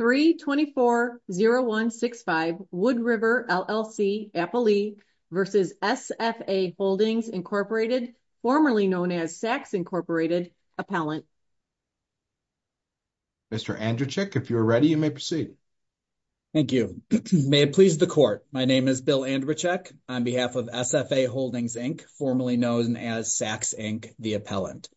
324-0165 Wood River, LLC, Appalee v. SFA Holdings, Inc., formerly known as Sachs, Inc., Appellant. Mr. Andrzejczyk, if you're ready, you may proceed. Thank you. May it please the Court. My name is Bill Andrzejczyk on behalf of SFA Holdings, Inc., formerly known as Sachs, Inc., the Appellant.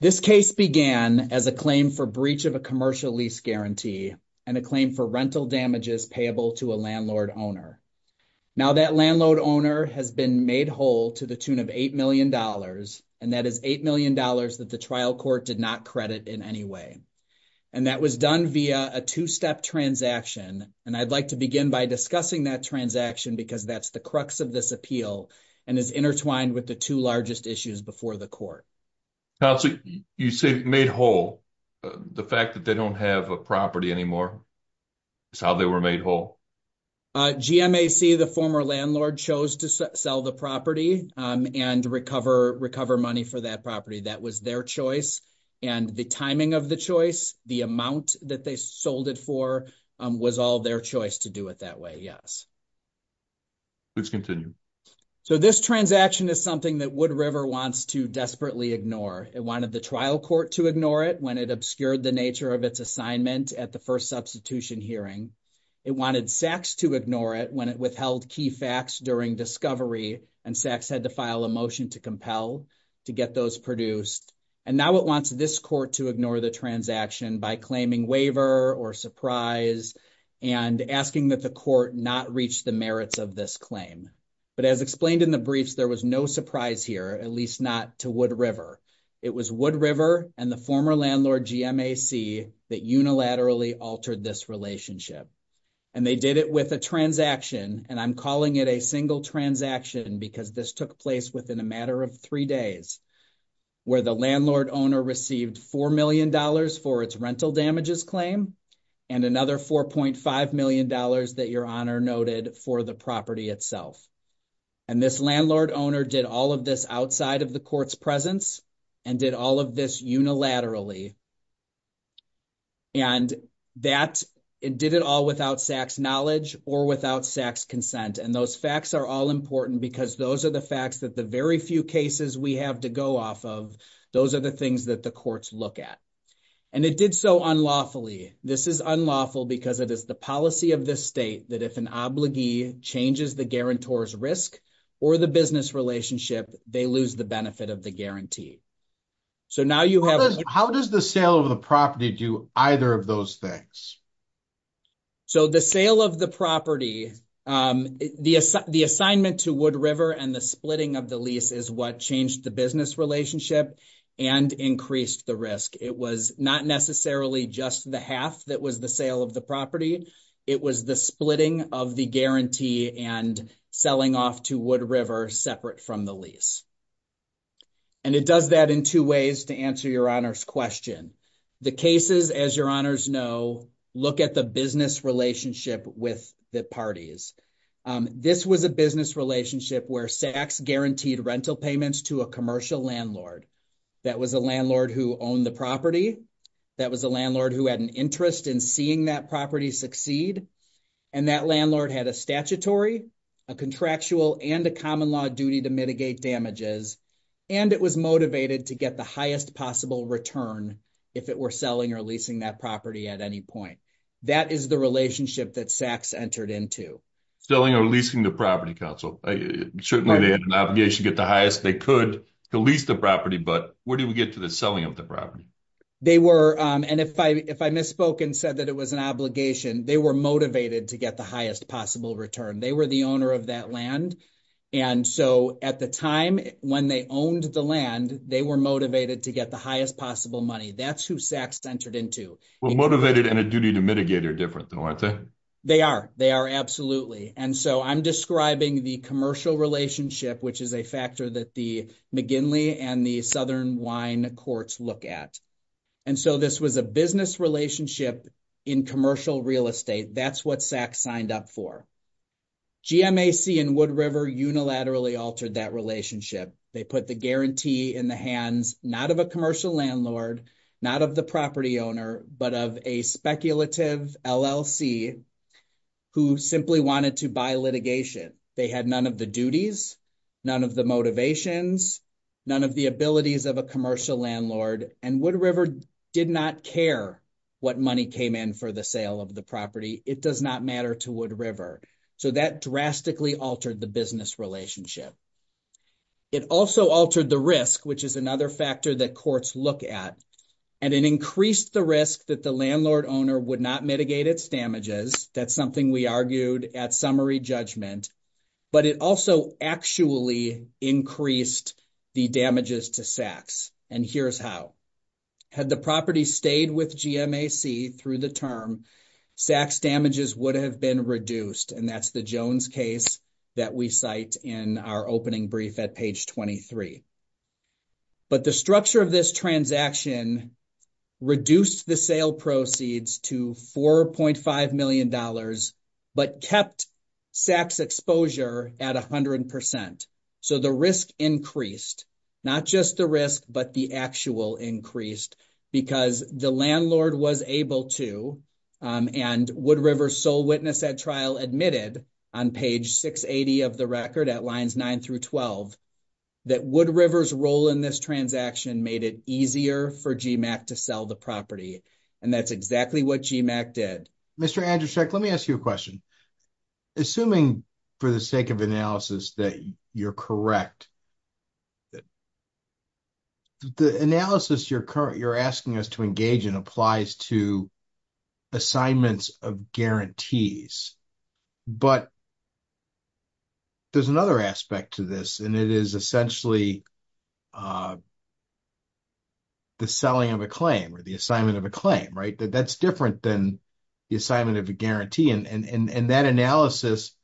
This case began as a claim for breach of a commercial lease guarantee and a claim for rental damages payable to a landlord owner. Now, that landlord owner has been made whole to the tune of $8 million, and that is $8 million that the trial court did not credit in any way. And that was done via a two-step transaction, and I'd like to begin by discussing that transaction because that's the crux of this appeal and is intertwined with the two largest issues before the court. Counsel, you say made whole. The fact that they don't have a property anymore is how they were made whole? GMAC, the former landlord, chose to sell the property and recover money for that property. That was their choice. And the timing of the choice, the amount that they sold it for, was all their choice to do it that way, yes. Please continue. So this transaction is something that Wood River wants to desperately ignore. It wanted the trial court to ignore it when it obscured the nature of its assignment at the first substitution hearing. It wanted Sachs to ignore it when it withheld key facts during discovery, and Sachs had to file a motion to compel to get those produced. And now it wants this court to ignore the transaction by claiming waiver or surprise and asking that the court not reach the merits of this claim. But as explained in the briefs, there was no surprise here, at least not to Wood River. It was Wood River and the former landlord, GMAC, that unilaterally altered this relationship. And they did it with a transaction, and I'm calling it a single transaction because this took place within a matter of three days, where the landlord owner received $4 million for its rental damages claim and another $4.5 million that Your Honor noted for the property itself. And this landlord owner did all of this outside of the court's presence and did all of this unilaterally. And that, it did it all without Sachs' knowledge or without Sachs' consent, and those facts are all important because those are the facts that the very few cases we have to go off of, those are the things that the courts look at. And it did so unlawfully. This is unlawful because it is the policy of this state that if an obligee changes the guarantor's risk or the business relationship, they lose the benefit of the guarantee. So now you have... How does the sale of the property do either of those things? So the sale of the property, the assignment to Wood River and the splitting of the lease is what changed the business relationship and increased the risk. It was not necessarily just the half that was the sale of the property. It was the splitting of the guarantee and selling off to Wood River separate from the lease. And it does that in two ways to answer Your Honor's question. The cases, as Your Honors know, look at the business relationship with the parties. This was a business relationship where Sachs guaranteed rental payments to a commercial landlord. That was a landlord who owned the property. That was a landlord who had an interest in seeing that property succeed. And that landlord had a statutory, a contractual, and a common law duty to mitigate damages. And it was motivated to get the highest possible return if it were selling or leasing that property at any point. That is the relationship that Sachs entered into. Selling or leasing the property, counsel. Certainly they had an obligation to get the highest they could to lease the property. But where do we get to the selling of the property? And if I misspoke and said that it was an obligation, they were motivated to get the highest possible return. They were the owner of that land. And so at the time when they owned the land, they were motivated to get the highest possible money. That's who Sachs entered into. Well, motivated and a duty to mitigate are different though, aren't they? They are. They are. Absolutely. And so I'm describing the commercial relationship, which is a factor that the McGinley and the Southern Wine Courts look at. And so this was a business relationship in commercial real estate. That's what Sachs signed up for. GMAC and Wood River unilaterally altered that relationship. They put the guarantee in the hands not of a commercial landlord, not of the property owner, but of a speculative LLC who simply wanted to buy litigation. They had none of the duties, none of the motivations, none of the abilities of a commercial landlord. And Wood River did not care what money came in for the sale of the property. It does not matter to Wood River. So that drastically altered the business relationship. It also altered the risk, which is another factor that courts look at. And it increased the risk that the landlord owner would not mitigate its damages. That's something we argued at summary judgment. But it also actually increased the damages to Sachs. And here's how. Had the property stayed with GMAC through the term, Sachs damages would have been reduced. And that's the Jones case that we cite in our opening brief at page 23. But the structure of this transaction reduced the sale proceeds to $4.5 million, but kept Sachs exposure at 100%. So the risk increased. Not just the risk, but the actual increased because the landlord was able to, and Wood River's sole witness at trial admitted on page 680 of the record at lines 9 through 12, that Wood River's role in this transaction made it easier for GMAC to sell the property. And that's exactly what GMAC did. Mr. Andrzejewski, let me ask you a question. Assuming for the sake of analysis that you're correct, the analysis you're asking us to engage in applies to assignments of guarantees. But there's another aspect to this, and it is essentially the selling of a claim or the assignment of a claim, right? That's different than the assignment of a guarantee. And that analysis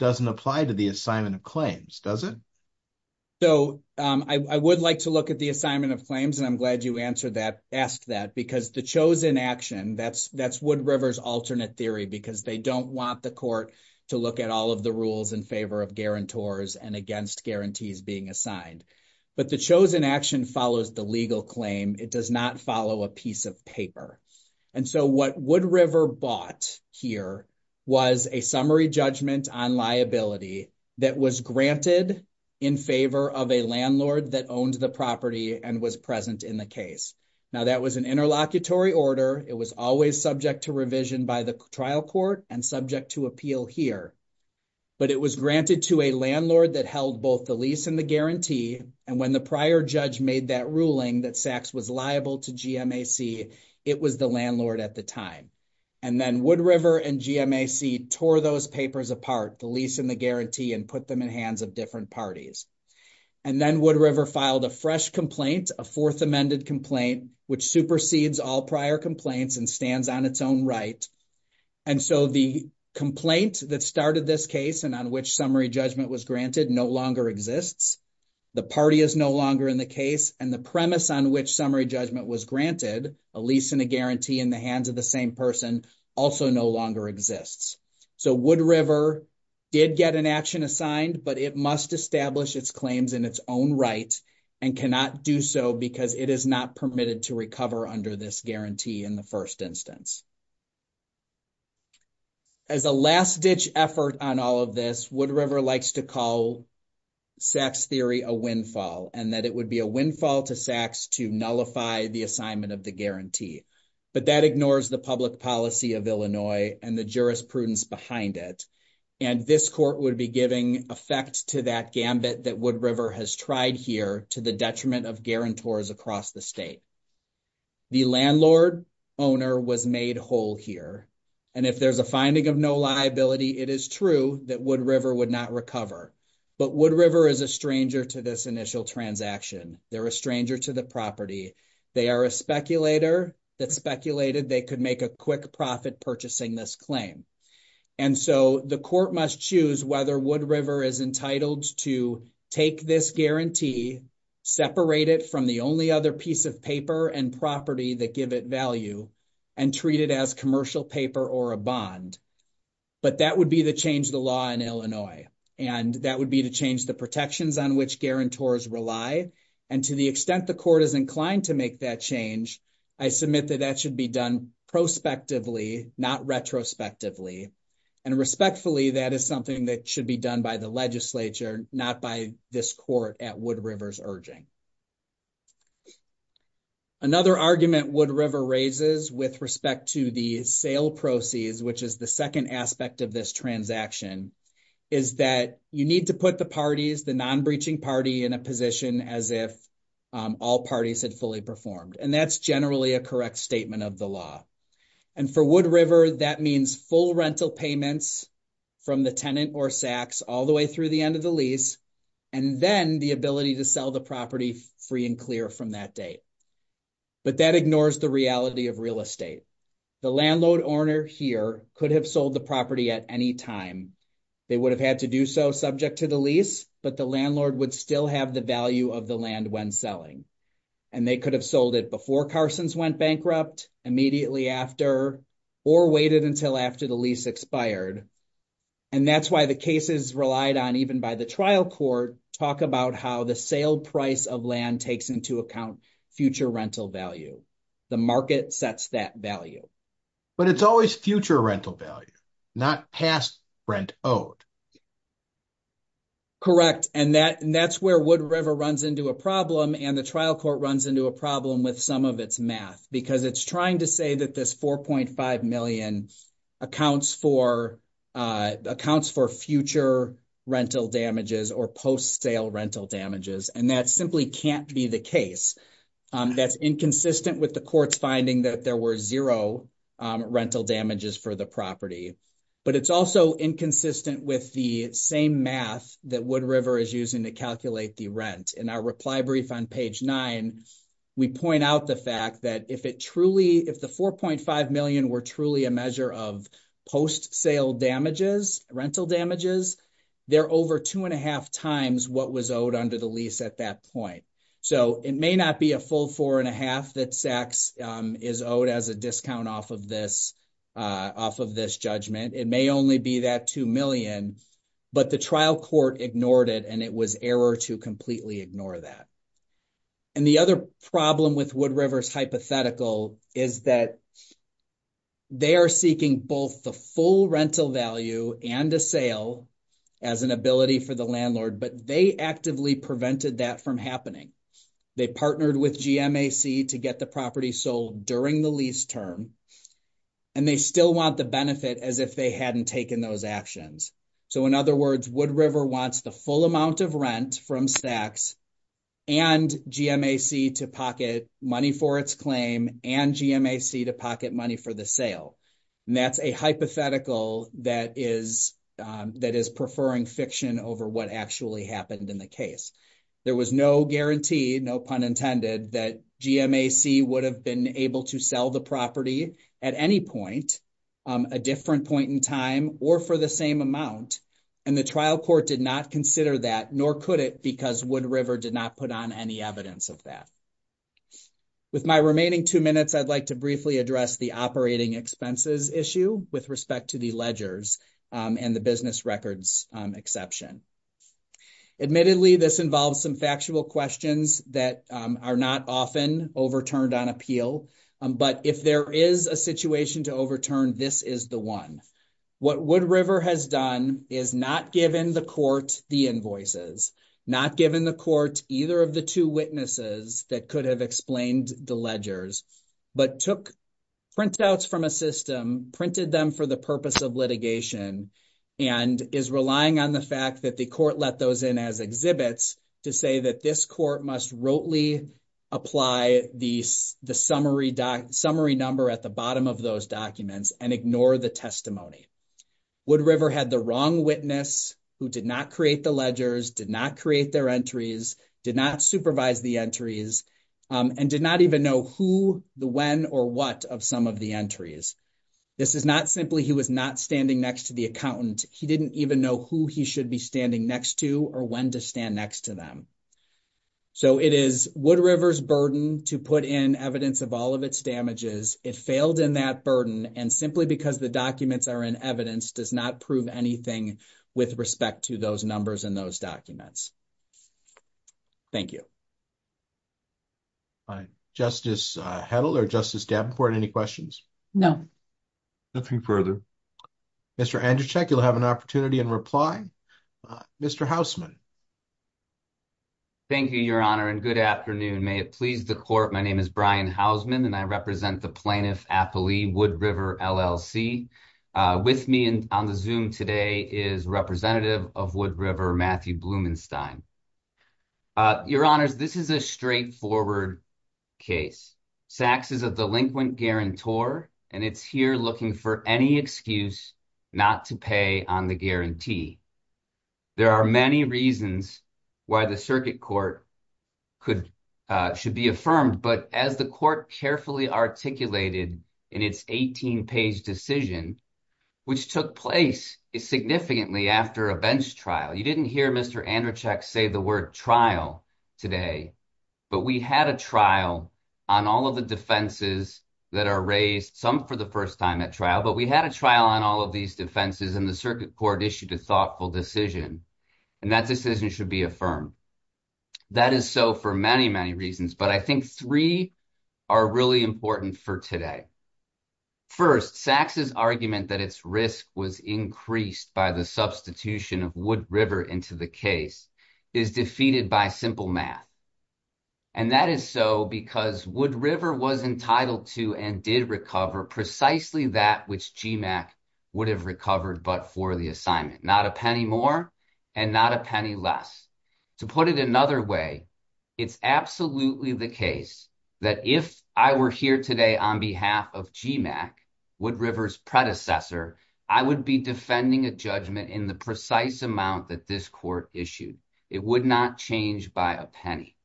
doesn't apply to the assignment of claims, does it? So I would like to look at the assignment of claims, and I'm glad you asked that, because the chosen action, that's Wood River's alternate theory, because they don't want the court to look at all of the rules in favor of guarantors and against guarantees being assigned. But the chosen action follows the legal claim. It does not follow a piece of paper. And so what Wood River bought here was a summary judgment on liability that was granted in favor of a landlord that owned the property and was present in the case. Now, that was an interlocutory order. It was always subject to revision by the trial court and subject to appeal here. But it was granted to a landlord that held both the lease and the guarantee. And when the prior judge made that ruling that Sachs was liable to GMAC, it was the landlord at the time. And then Wood River and GMAC tore those papers apart, the lease and the guarantee, and put them in hands of different parties. And then Wood River filed a fresh complaint, a fourth amended complaint, which supersedes all prior complaints and stands on its own right. And so the complaint that started this case and on which summary judgment was granted no longer exists. The party is no longer in the case. And the premise on which summary judgment was granted, a lease and a guarantee in the hands of the same person, also no longer exists. So Wood River did get an action assigned, but it must establish its claims in its own right and cannot do so because it is not permitted to recover under this guarantee in the first instance. As a last ditch effort on all of this, Wood River likes to call Sachs theory a windfall and that it would be a windfall to Sachs to nullify the assignment of the guarantee. But that ignores the public policy of Illinois and the jurisprudence behind it. And this court would be giving effect to that gambit that Wood River has tried here to the detriment of guarantors across the state. The landlord owner was made whole here. And if there's a finding of no liability, it is true that Wood River would not recover. But Wood River is a stranger to this initial transaction. They're a stranger to the property. They are a speculator that speculated they could make a quick profit purchasing this claim. And so the court must choose whether Wood River is entitled to take this guarantee, separate it from the only other piece of paper and property that give it value and treat it as commercial paper or a bond. But that would be the change the law in Illinois. And that would be to change the protections on which guarantors rely. And to the extent the court is inclined to make that change, I submit that that should be done prospectively, not retrospectively. And respectfully, that is something that should be done by the legislature, not by this court at Wood River's urging. Another argument Wood River raises with respect to the sale proceeds, which is the second aspect of this transaction, is that you need to put the parties, the non-breaching party in a position as if all parties had fully performed. And that's generally a correct statement of the law. And for Wood River, that means full rental payments from the tenant or sacks all the way through the end of the lease, and then the ability to sell the property free and clear from that date. But that ignores the reality of real estate. The landlord owner here could have sold the property at any time. They would have had to do so subject to the lease, but the landlord would still have the value of the land when selling. And they could have sold it before Carsons went bankrupt, immediately after, or waited until after the lease expired. And that's why the cases relied on, even by the trial court, talk about how the sale price of land takes into account future rental value. The market sets that value. But it's always future rental value, not past rent owed. Correct. And that's where Wood River runs into a problem, and the trial court runs into a problem with some of its math. Because it's trying to say that this 4.5 million accounts for future rental damages or post-sale rental damages. And that simply can't be the case. That's inconsistent with the court's finding that there were zero rental damages for the property. But it's also inconsistent with the same math that Wood River is using to calculate the rent. In our reply brief on page 9, we point out the fact that if the 4.5 million were truly a measure of post-sale damages, rental damages, they're over two and a half times what was owed under the lease at that point. So it may not be a full four and a half that SACS is owed as a discount off of this judgment. It may only be that two million. But the trial court ignored it, and it was error to completely ignore that. And the other problem with Wood River's hypothetical is that they are seeking both the full rental value and a sale as an ability for the landlord. But they actively prevented that from happening. They partnered with GMAC to get the property sold during the lease term. And they still want the benefit as if they hadn't taken those actions. So in other words, Wood River wants the full amount of rent from SACS and GMAC to pocket money for its claim and GMAC to pocket money for the sale. And that's a hypothetical that is preferring fiction over what actually happened in the case. There was no guarantee, no pun intended, that GMAC would have been able to sell the property at any point, a different point in time, or for the same amount. And the trial court did not consider that, nor could it, because Wood River did not put on any evidence of that. With my remaining two minutes, I'd like to briefly address the operating expenses issue with respect to the ledgers and the business records exception. Admittedly, this involves some factual questions that are not often overturned on appeal. But if there is a situation to overturn, this is the one. What Wood River has done is not given the court the invoices, not given the court either of the two witnesses that could have explained the ledgers, but took printouts from a system, printed them for the purpose of litigation, and is relying on the fact that the court let those in as exhibits to say that this court must rotely apply the summary number at the bottom of those documents and ignore the testimony. Wood River had the wrong witness who did not create the ledgers, did not create their entries, did not supervise the entries, and did not even know who, the when, or what of some of the entries. This is not simply he was not standing next to the accountant. He didn't even know who he should be standing next to or when to stand next to them. So it is Wood River's burden to put in evidence of all of its damages. It failed in that burden. And simply because the documents are in evidence does not prove anything with respect to those numbers in those documents. Thank you. Justice Hedl or Justice Davenport, any questions? No. Nothing further. Mr. Andrzejczyk, you'll have an opportunity in reply. Mr. Hausman. Thank you, Your Honor, and good afternoon. May it please the court. My name is Brian Hausman, and I represent the plaintiff, Appley, Wood River, LLC. With me on the Zoom today is representative of Wood River, Matthew Blumenstein. Your Honor, this is a straightforward case. Saks is a delinquent guarantor, and it's here looking for any excuse not to pay on the guarantee. There are many reasons why the circuit court should be affirmed. But as the court carefully articulated in its 18-page decision, which took place significantly after a bench trial, you didn't hear Mr. Andrzejczyk say the word trial today. But we had a trial on all of the defenses that are raised, some for the first time at trial. But we had a trial on all of these defenses, and the circuit court issued a thoughtful decision. And that decision should be affirmed. That is so for many, many reasons, but I think three are really important for today. First, Saks' argument that its risk was increased by the substitution of Wood River into the case is defeated by simple math. And that is so because Wood River was entitled to and did recover precisely that which GMAC would have recovered but for the assignment. Not a penny more and not a penny less. To put it another way, it's absolutely the case that if I were here today on behalf of GMAC, Wood River's predecessor, I would be defending a judgment in the precise amount that this court issued. It would not change by a penny.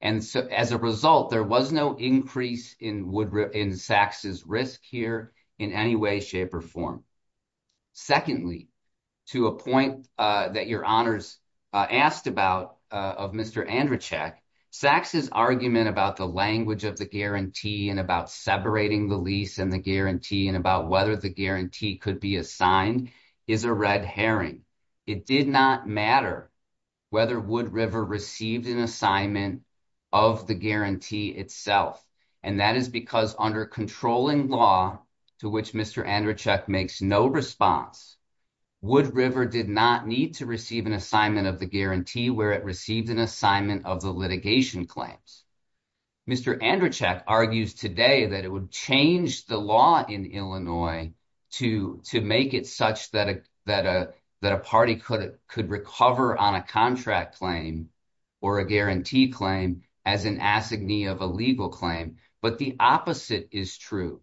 And so as a result, there was no increase in Saks' risk here in any way, shape or form. Secondly, to a point that your honors asked about of Mr. Andrzejczyk, Saks' argument about the language of the guarantee and about separating the lease and the guarantee and about whether the guarantee could be assigned is a red herring. It did not matter whether Wood River received an assignment of the guarantee itself. And that is because under controlling law to which Mr. Andrzejczyk makes no response, Wood River did not need to receive an assignment of the guarantee where it received an assignment of the litigation claims. Mr. Andrzejczyk argues today that it would change the law in Illinois to make it such that a party could recover on a contract claim or a guarantee claim as an assignee of a legal claim. But the opposite is true.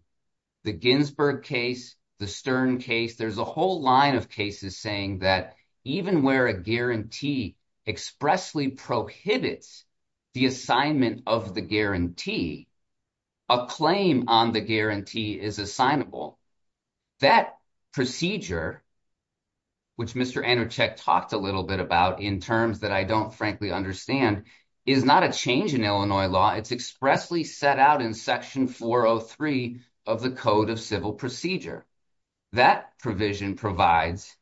The Ginsburg case, the Stern case, there's a whole line of cases saying that even where a guarantee expressly prohibits the assignment of the guarantee, a claim on the guarantee is assignable. That procedure, which Mr. Andrzejczyk talked a little bit about in terms that I don't frankly understand, is not a change in Illinois law. It's expressly set out in Section 403 of the Code of Civil Procedure. That provision provides,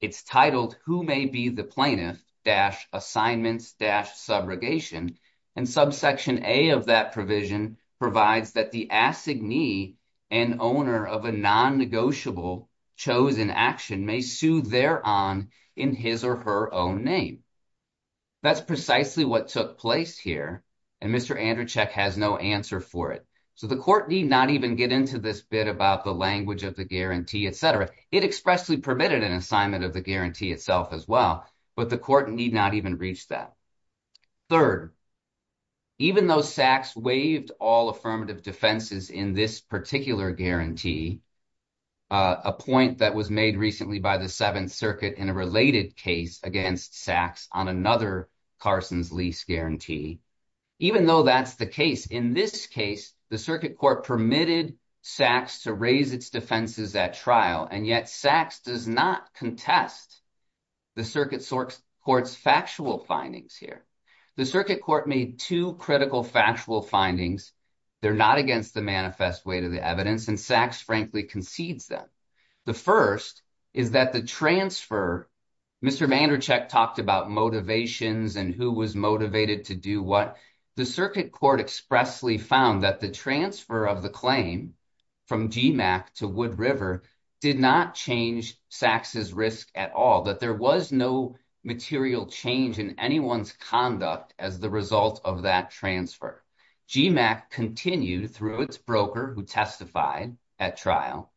it's titled, who may be the plaintiff dash assignments dash subrogation. And subsection A of that provision provides that the assignee and owner of a non-negotiable chosen action may sue thereon in his or her own name. That's precisely what took place here. And Mr. Andrzejczyk has no answer for it. So the court need not even get into this bit about the language of the guarantee, etc. It expressly permitted an assignment of the guarantee itself as well. But the court need not even reach that. Third, even though Sachs waived all affirmative defenses in this particular guarantee, a point that was made recently by the Seventh Circuit in a related case against Sachs on another Carson's lease guarantee, even though that's the case in this case, the circuit court permitted Sachs to raise its defenses at trial. And yet Sachs does not contest the circuit court's factual findings here. The circuit court made two critical factual findings. They're not against the manifest way to the evidence. And Sachs frankly concedes them. The first is that the transfer. Mr. Andrzejczyk talked about motivations and who was motivated to do what. The circuit court expressly found that the transfer of the claim from GMAC to Wood River did not change Sachs's risk at all, that there was no material change in anyone's conduct as the result of that transfer. GMAC continued through its broker who testified at trial,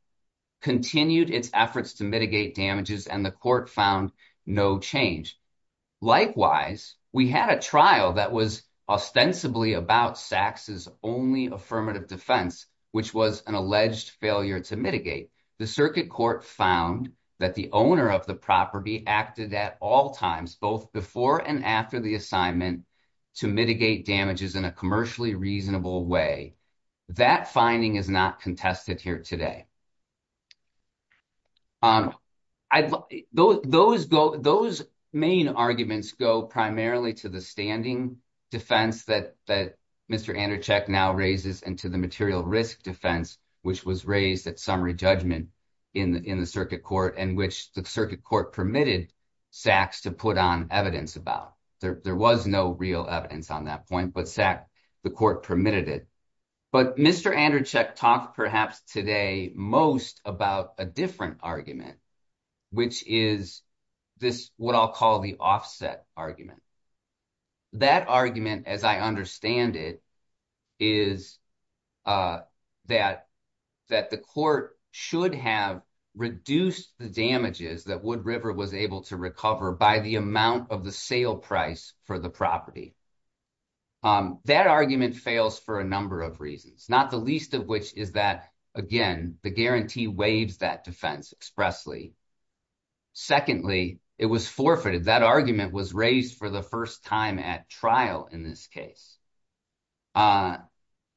continued its efforts to mitigate damages, and the court found no change. Likewise, we had a trial that was ostensibly about Sachs's only affirmative defense, which was an alleged failure to mitigate. The circuit court found that the owner of the property acted at all times, both before and after the assignment to mitigate damages in a commercially reasonable way. That finding is not contested here today. Those main arguments go primarily to the standing defense that Mr. Andrzejczyk now raises and to the material risk defense, which was raised at summary judgment in the circuit court and which the circuit court permitted Sachs to put on evidence about. There was no real evidence on that point, but the court permitted it. But Mr. Andrzejczyk talked perhaps today most about a different argument, which is what I'll call the offset argument. That argument, as I understand it, is that that the court should have reduced the damages that Wood River was able to recover by the amount of the sale price for the property. That argument fails for a number of reasons, not the least of which is that, again, the guarantee waives that defense expressly. Secondly, it was forfeited. That argument was raised for the first time at trial in this case.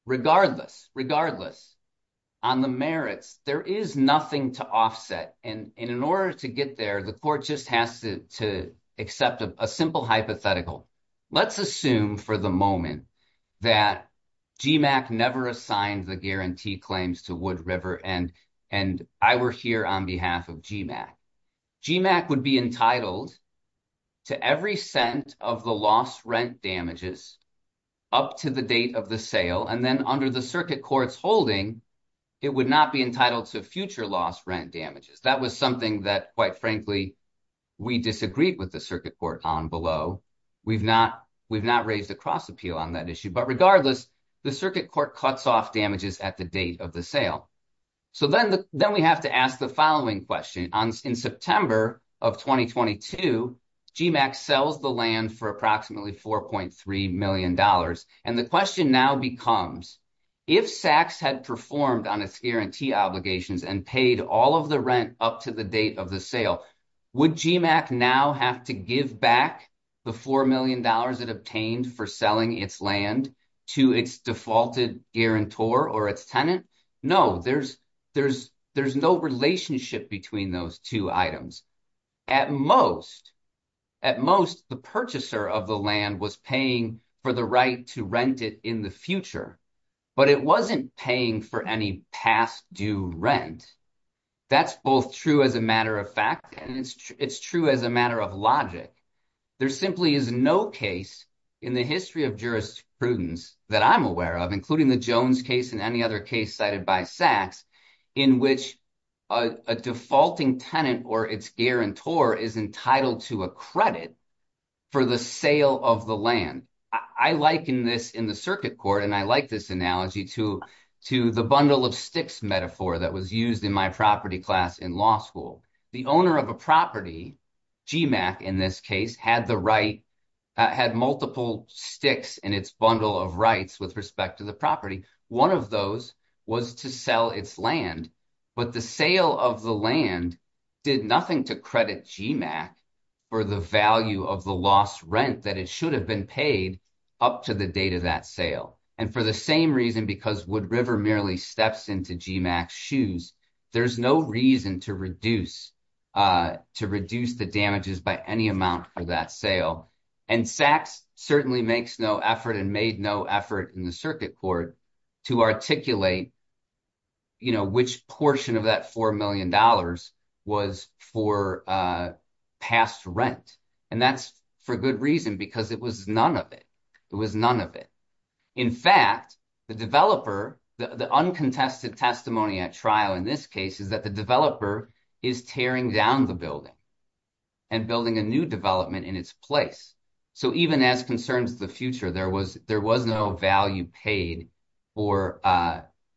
Regardless, regardless on the merits, there is nothing to offset. And in order to get there, the court just has to accept a simple hypothetical. Let's assume for the moment that GMAC never assigned the guarantee claims to Wood River and and I were here on behalf of GMAC. GMAC would be entitled to every cent of the lost rent damages up to the date of the sale. And then under the circuit court's holding, it would not be entitled to future loss rent damages. That was something that, quite frankly, we disagreed with the circuit court on below. We've not we've not raised a cross appeal on that issue. But regardless, the circuit court cuts off damages at the date of the sale. So then then we have to ask the following question. In September of twenty twenty two, GMAC sells the land for approximately four point three million dollars. And the question now becomes if Sachs had performed on its guarantee obligations and paid all of the rent up to the date of the sale, would GMAC now have to give back the four million dollars it obtained for selling its land to its defaulted guarantor or its tenant? No, there's there's there's no relationship between those two items at most. At most, the purchaser of the land was paying for the right to rent it in the future, but it wasn't paying for any past due rent. That's both true as a matter of fact, and it's true as a matter of logic. There simply is no case in the history of jurisprudence that I'm aware of, including the Jones case and any other case cited by Sachs, in which a defaulting tenant or its guarantor is entitled to a credit for the sale of the land. I liken this in the circuit court and I like this analogy to to the bundle of sticks metaphor that was used in my property class in law school. The owner of a property, GMAC in this case, had the right, had multiple sticks in its bundle of rights with respect to the property. One of those was to sell its land, but the sale of the land did nothing to credit GMAC for the value of the lost rent that it should have been paid up to the date of that sale. And for the same reason, because Wood River merely steps into GMAC's shoes, there's no reason to reduce the damages by any amount for that sale. And Sachs certainly makes no effort and made no effort in the circuit court to articulate which portion of that $4 million was for past rent. And that's for good reason, because it was none of it. It was none of it. In fact, the developer, the uncontested testimony at trial in this case, is that the developer is tearing down the building and building a new development in its place. So even as concerns the future, there was no value paid for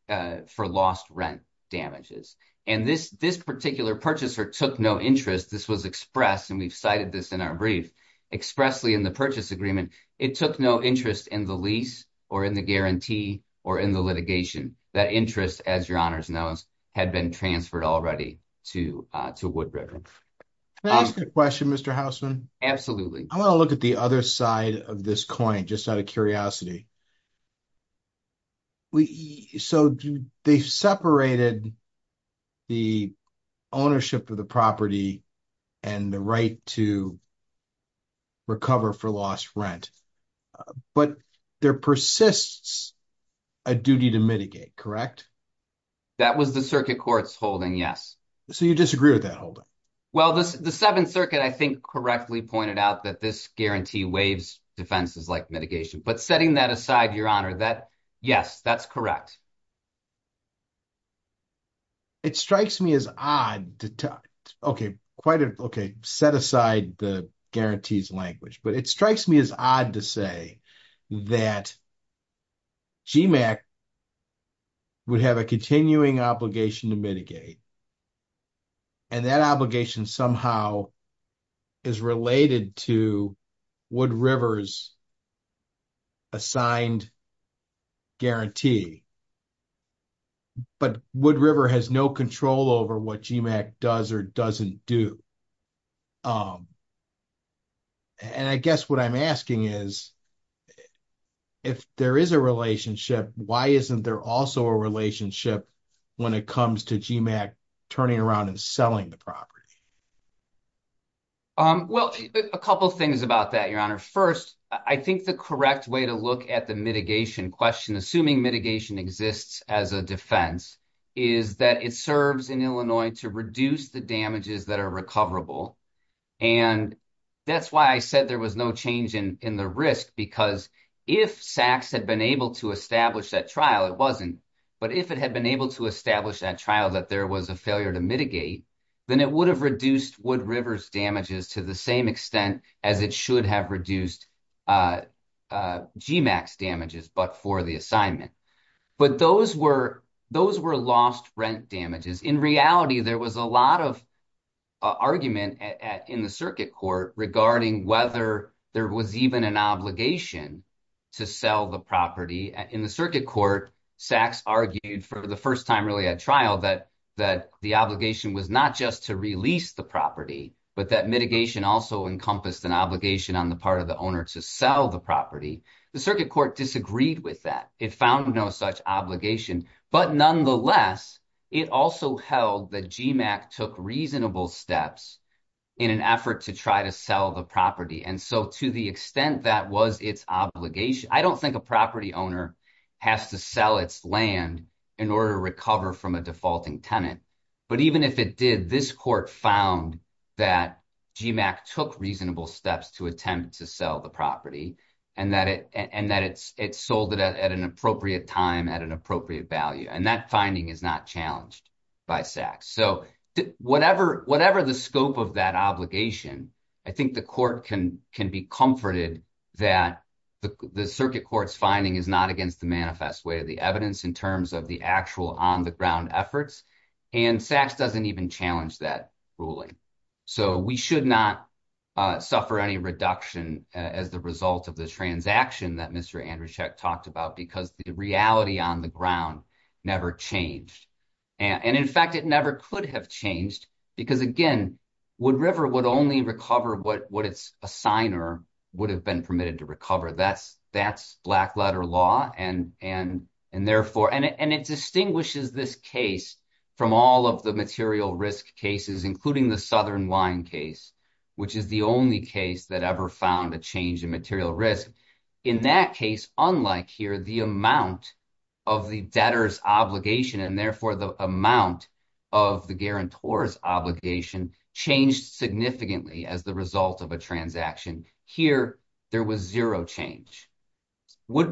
lost rent damages. And this particular purchaser took no interest. This was expressed, and we've cited this in our brief, expressly in the purchase agreement. It took no interest in the lease or in the guarantee or in the litigation. That interest, as your honors knows, had been transferred already to Wood River. Can I ask a question, Mr. Hausman? Absolutely. I want to look at the other side of this coin, just out of curiosity. So they've separated the ownership of the property and the right to recover for lost rent, but there persists a duty to mitigate, correct? That was the circuit court's holding, yes. So you disagree with that holding? Well, the Seventh Circuit, I think, correctly pointed out that this guarantee waives defenses like mitigation. But setting that aside, your honor, yes, that's correct. It strikes me as odd to, okay, set aside the guarantees language, but it strikes me as odd to say that GMAC would have a continuing obligation to mitigate. And that obligation somehow is related to Wood River's assigned guarantee. But Wood River has no control over what GMAC does or doesn't do. And I guess what I'm asking is, if there is a relationship, why isn't there also a relationship when it comes to GMAC turning around and selling the property? Well, a couple of things about that, your honor. First, I think the correct way to look at the mitigation question, assuming mitigation exists as a defense, is that it serves in Illinois to reduce the damages that are recoverable. And that's why I said there was no change in the risk, because if SACS had been able to establish that trial, it wasn't. But if it had been able to establish that trial that there was a failure to mitigate, then it would have reduced Wood River's damages to the same extent as it should have reduced GMAC's damages, but for the assignment. But those were lost rent damages. In reality, there was a lot of argument in the circuit court regarding whether there was even an obligation to sell the property. In the circuit court, SACS argued for the first time really at trial that the obligation was not just to release the property, but that mitigation also encompassed an obligation on the part of the owner to sell the property. The circuit court disagreed with that. It found no such obligation. But nonetheless, it also held that GMAC took reasonable steps in an effort to try to sell the property. And so to the extent that was its obligation, I don't think a property owner has to sell its land in order to recover from a defaulting tenant. But even if it did, this court found that GMAC took reasonable steps to attempt to sell the property and that it sold it at an appropriate time at an appropriate value. And that finding is not challenged by SACS. So whatever whatever the scope of that obligation, I think the court can can be comforted that the circuit court's finding is not against the manifest way of the evidence in terms of the actual on the ground efforts. And SACS doesn't even challenge that ruling. So we should not suffer any reduction as the result of the transaction that Mr. talked about because the reality on the ground never changed. And in fact, it never could have changed because, again, Wood River would only recover what its signer would have been permitted to recover. That's that's black letter law. And therefore, and it distinguishes this case from all of the material risk cases, including the Southern Wine case, which is the only case that ever found a change in material risk. In that case, unlike here, the amount of the debtor's obligation and therefore the amount of the guarantor's obligation changed significantly as the result of a transaction. Here, there was zero change.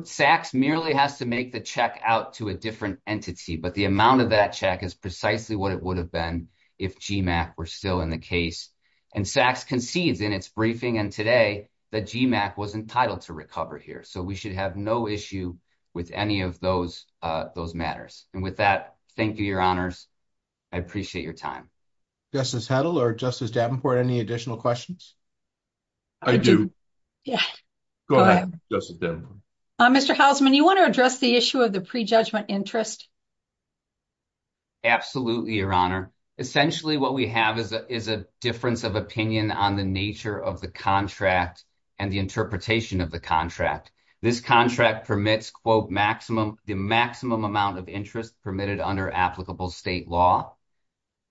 SACS merely has to make the check out to a different entity, but the amount of that check is precisely what it would have been if GMAC were still in the case. And SACS concedes in its briefing and today that GMAC was entitled to recover here. So we should have no issue with any of those those matters. And with that, thank you, Your Honors. I appreciate your time. Justice Hedl or Justice Davenport, any additional questions? I do. Go ahead, Justice Davenport. Mr. Hausman, you want to address the issue of the prejudgment interest? Absolutely, Your Honor. Essentially, what we have is a difference of opinion on the nature of the contract and the interpretation of the contract. This contract permits, quote, maximum the maximum amount of interest permitted under applicable state law.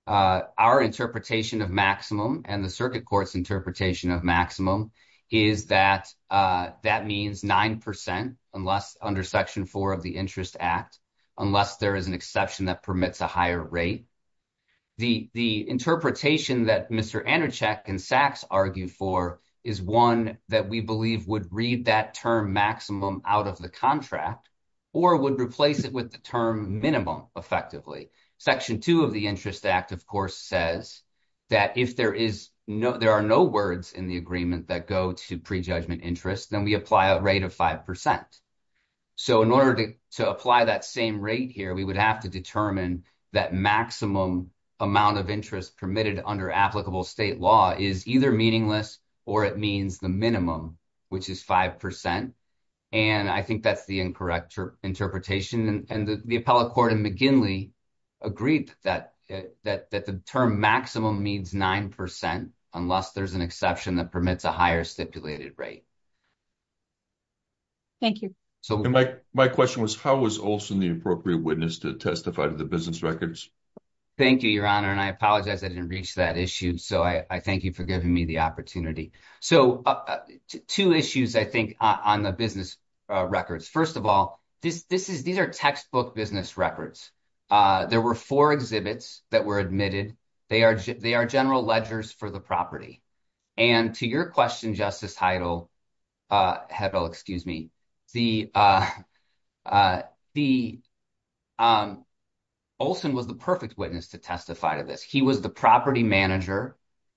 Our interpretation of maximum and the circuit court's interpretation of maximum is that that means 9 percent unless under Section 4 of the Interest Act, unless there is an exception that permits a higher rate. The interpretation that Mr. Andercheck and SACS argue for is one that we believe would read that term maximum out of the contract or would replace it with the term minimum effectively. Section 2 of the Interest Act, of course, says that if there is no there are no words in the agreement that go to prejudgment interest, then we apply a rate of 5 percent. So in order to apply that same rate here, we would have to determine that maximum amount of interest permitted under applicable state law is either meaningless or it means the minimum, which is 5 percent. And I think that's the incorrect interpretation. And the appellate court in McGinley agreed that the term maximum means 9 percent unless there's an exception that permits a higher stipulated rate. Thank you. My question was, how was Olson the appropriate witness to testify to the business records? Thank you, Your Honor, and I apologize. I didn't reach that issue. So I thank you for giving me the opportunity. So two issues, I think, on the business records. First of all, this this is these are textbook business records. There were four exhibits that were admitted. They are they are general ledgers for the property. And to your question, Justice Heidel, excuse me, Olson was the perfect witness to testify to this. He was the property manager.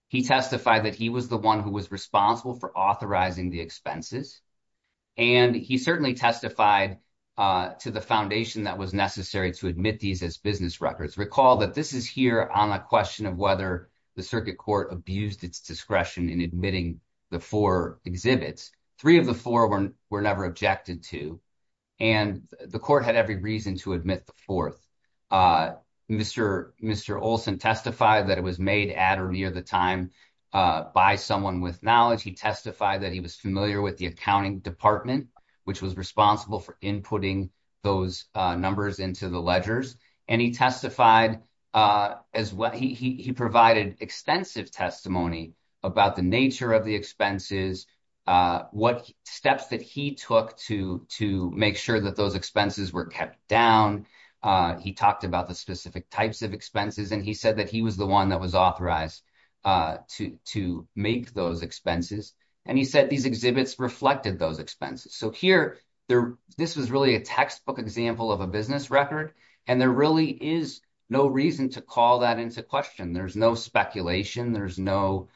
He testified that he was the one who was responsible for authorizing the expenses. And he certainly testified to the foundation that was necessary to admit these as business records. Recall that this is here on a question of whether the circuit court abused its discretion in admitting the four exhibits. Three of the four were never objected to. And the court had every reason to admit the fourth. Mr. Mr. Olson testified that it was made at or near the time by someone with knowledge. He testified that he was familiar with the accounting department, which was responsible for inputting those numbers into the ledgers. And he testified as well. He provided extensive testimony about the nature of the expenses, what steps that he took to to make sure that those expenses were kept down. He talked about the specific types of expenses and he said that he was the one that was authorized to to make those expenses. And he said these exhibits reflected those expenses. So here there this was really a textbook example of a business record. And there really is no reason to call that into question. There's no speculation. There's no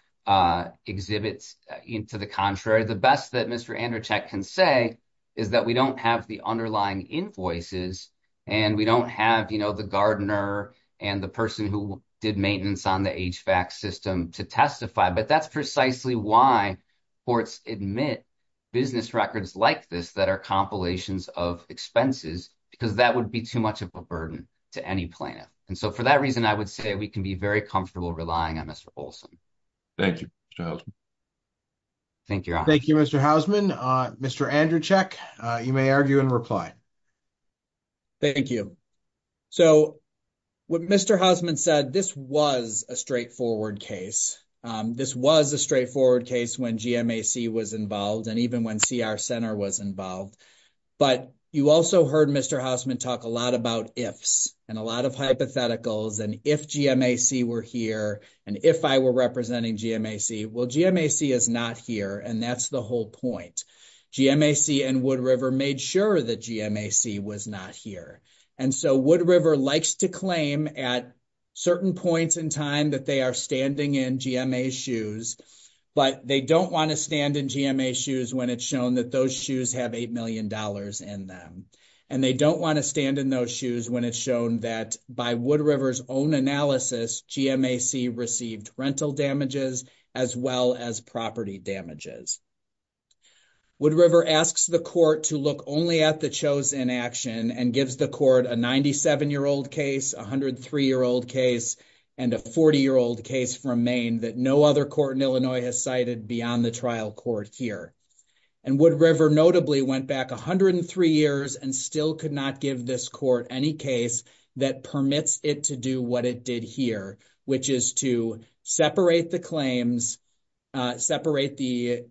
exhibits to the contrary. The best that Mr. Andercheck can say is that we don't have the underlying invoices and we don't have, you know, the gardener and the person who did maintenance on the HVAC system to testify. But that's precisely why courts admit business records like this that are compilations of expenses, because that would be too much of a burden to any plaintiff. And so for that reason, I would say we can be very comfortable relying on Mr. Olson. Thank you, Mr. Hausman. Thank you. Thank you, Mr. Hausman. Mr. Andercheck, you may argue and reply. Thank you. So what Mr. Hausman said, this was a straightforward case. This was a straightforward case when GMAC was involved and even when CR Center was involved. But you also heard Mr. Hausman talk a lot about ifs and a lot of hypotheticals. And if GMAC were here and if I were representing GMAC, well, GMAC is not here. And that's the whole point. GMAC and Wood River made sure that GMAC was not here. And so Wood River likes to claim at certain points in time that they are standing in GMA shoes, but they don't want to stand in GMA shoes when it's shown that those shoes have eight million dollars in them. And they don't want to stand in those shoes when it's shown that by Wood River's own analysis, GMAC received rental damages as well as property damages. Wood River asks the court to look only at the chosen action and gives the court a 97 year old case, a 103 year old case and a 40 year old case from Maine that no other court in Illinois has cited beyond the trial court here. And Wood River notably went back 103 years and still could not give this court any case that permits it to do what it did here, which is to separate the claims, separate the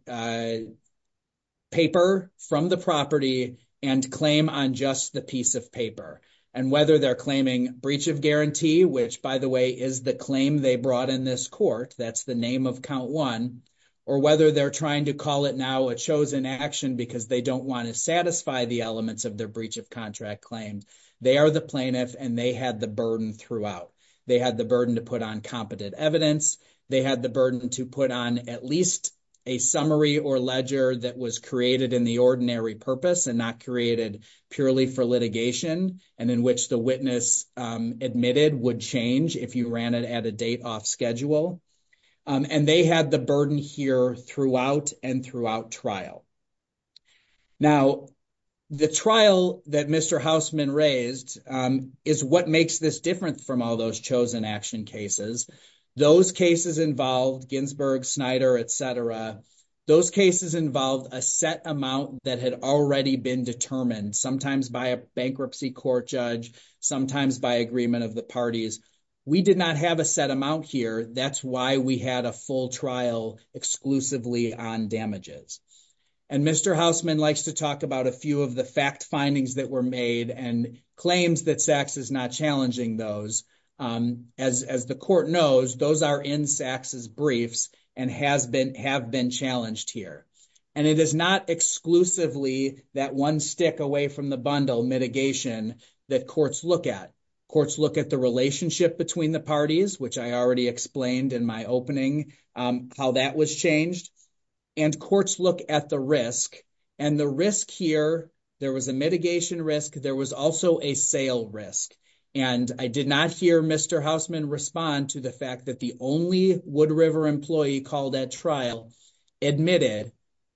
paper from the property and claim on just the piece of paper. And whether they're claiming breach of guarantee, which, by the way, is the claim they brought in this court, that's the name of count one, or whether they're trying to call it now a chosen action because they don't want to satisfy the elements of their breach of contract claims. They are the plaintiff and they had the burden throughout. They had the burden to put on competent evidence. They had the burden to put on at least a summary or ledger that was created in the ordinary purpose and not created purely for litigation. And in which the witness admitted would change if you ran it at a date off schedule. And they had the burden here throughout and throughout trial. Now, the trial that Mr. Houseman raised is what makes this different from all those chosen action cases. Those cases involved Ginsburg, Snyder, etc. Those cases involved a set amount that had already been determined, sometimes by a bankruptcy court judge, sometimes by agreement of the parties. We did not have a set amount here. That's why we had a full trial exclusively on damages. And Mr. Houseman likes to talk about a few of the fact findings that were made and claims that SACS is not challenging those. As the court knows, those are in SACS's briefs and have been challenged here. And it is not exclusively that one stick away from the bundle mitigation that courts look at. Courts look at the relationship between the parties, which I already explained in my opening, how that was changed. And courts look at the risk. And the risk here, there was a mitigation risk. There was also a sale risk. And I did not hear Mr. Houseman respond to the fact that the only Wood River employee called that trial admitted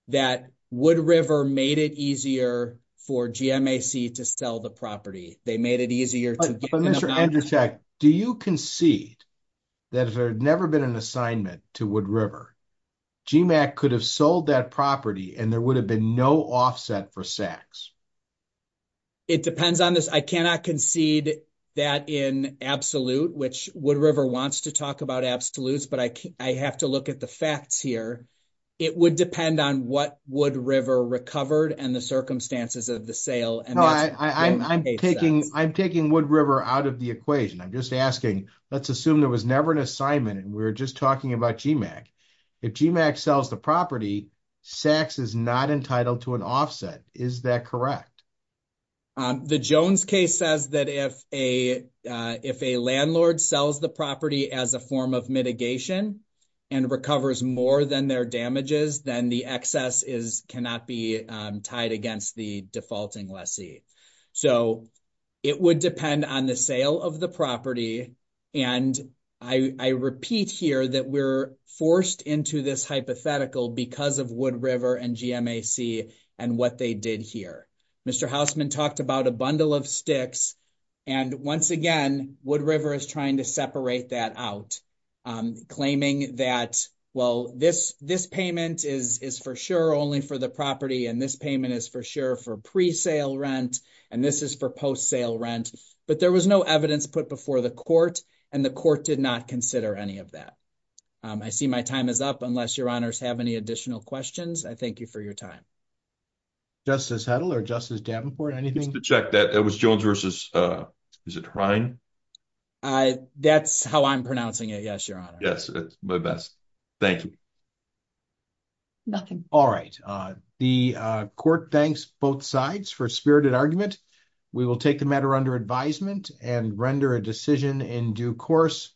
that Wood River made it easier for GMAC to sell the property. They made it easier. But Mr. Andrzejewski, do you concede that if there had never been an assignment to Wood River, GMAC could have sold that property and there would have been no offset for SACS? It depends on this. I cannot concede that in absolute, which Wood River wants to talk about absolutes, but I have to look at the facts here. It would depend on what Wood River recovered and the circumstances of the sale. I'm taking Wood River out of the equation. I'm just asking, let's assume there was never an assignment and we're just talking about GMAC. If GMAC sells the property, SACS is not entitled to an offset. Is that correct? The Jones case says that if a landlord sells the property as a form of mitigation and recovers more than their damages, then the excess cannot be tied against the defaulting lessee. So it would depend on the sale of the property. And I repeat here that we're forced into this hypothetical because of Wood River and GMAC and what they did here. Mr. Hausman talked about a bundle of sticks and once again, Wood River is trying to separate that out, claiming that, well, this payment is for sure only for the property and this payment is for sure for pre-sale rent and this is for post-sale rent. But there was no evidence put before the court and the court did not consider any of that. I see my time is up unless your honors have any additional questions. I thank you for your time. Justice Hedl or Justice Davenport, anything? Just to check that it was Jones versus, is it Hrine? That's how I'm pronouncing it, yes, your honor. Yes, my best. Thank you. Nothing. All right. The court thanks both sides for spirited argument. We will take the matter under advisement and render a decision in due course.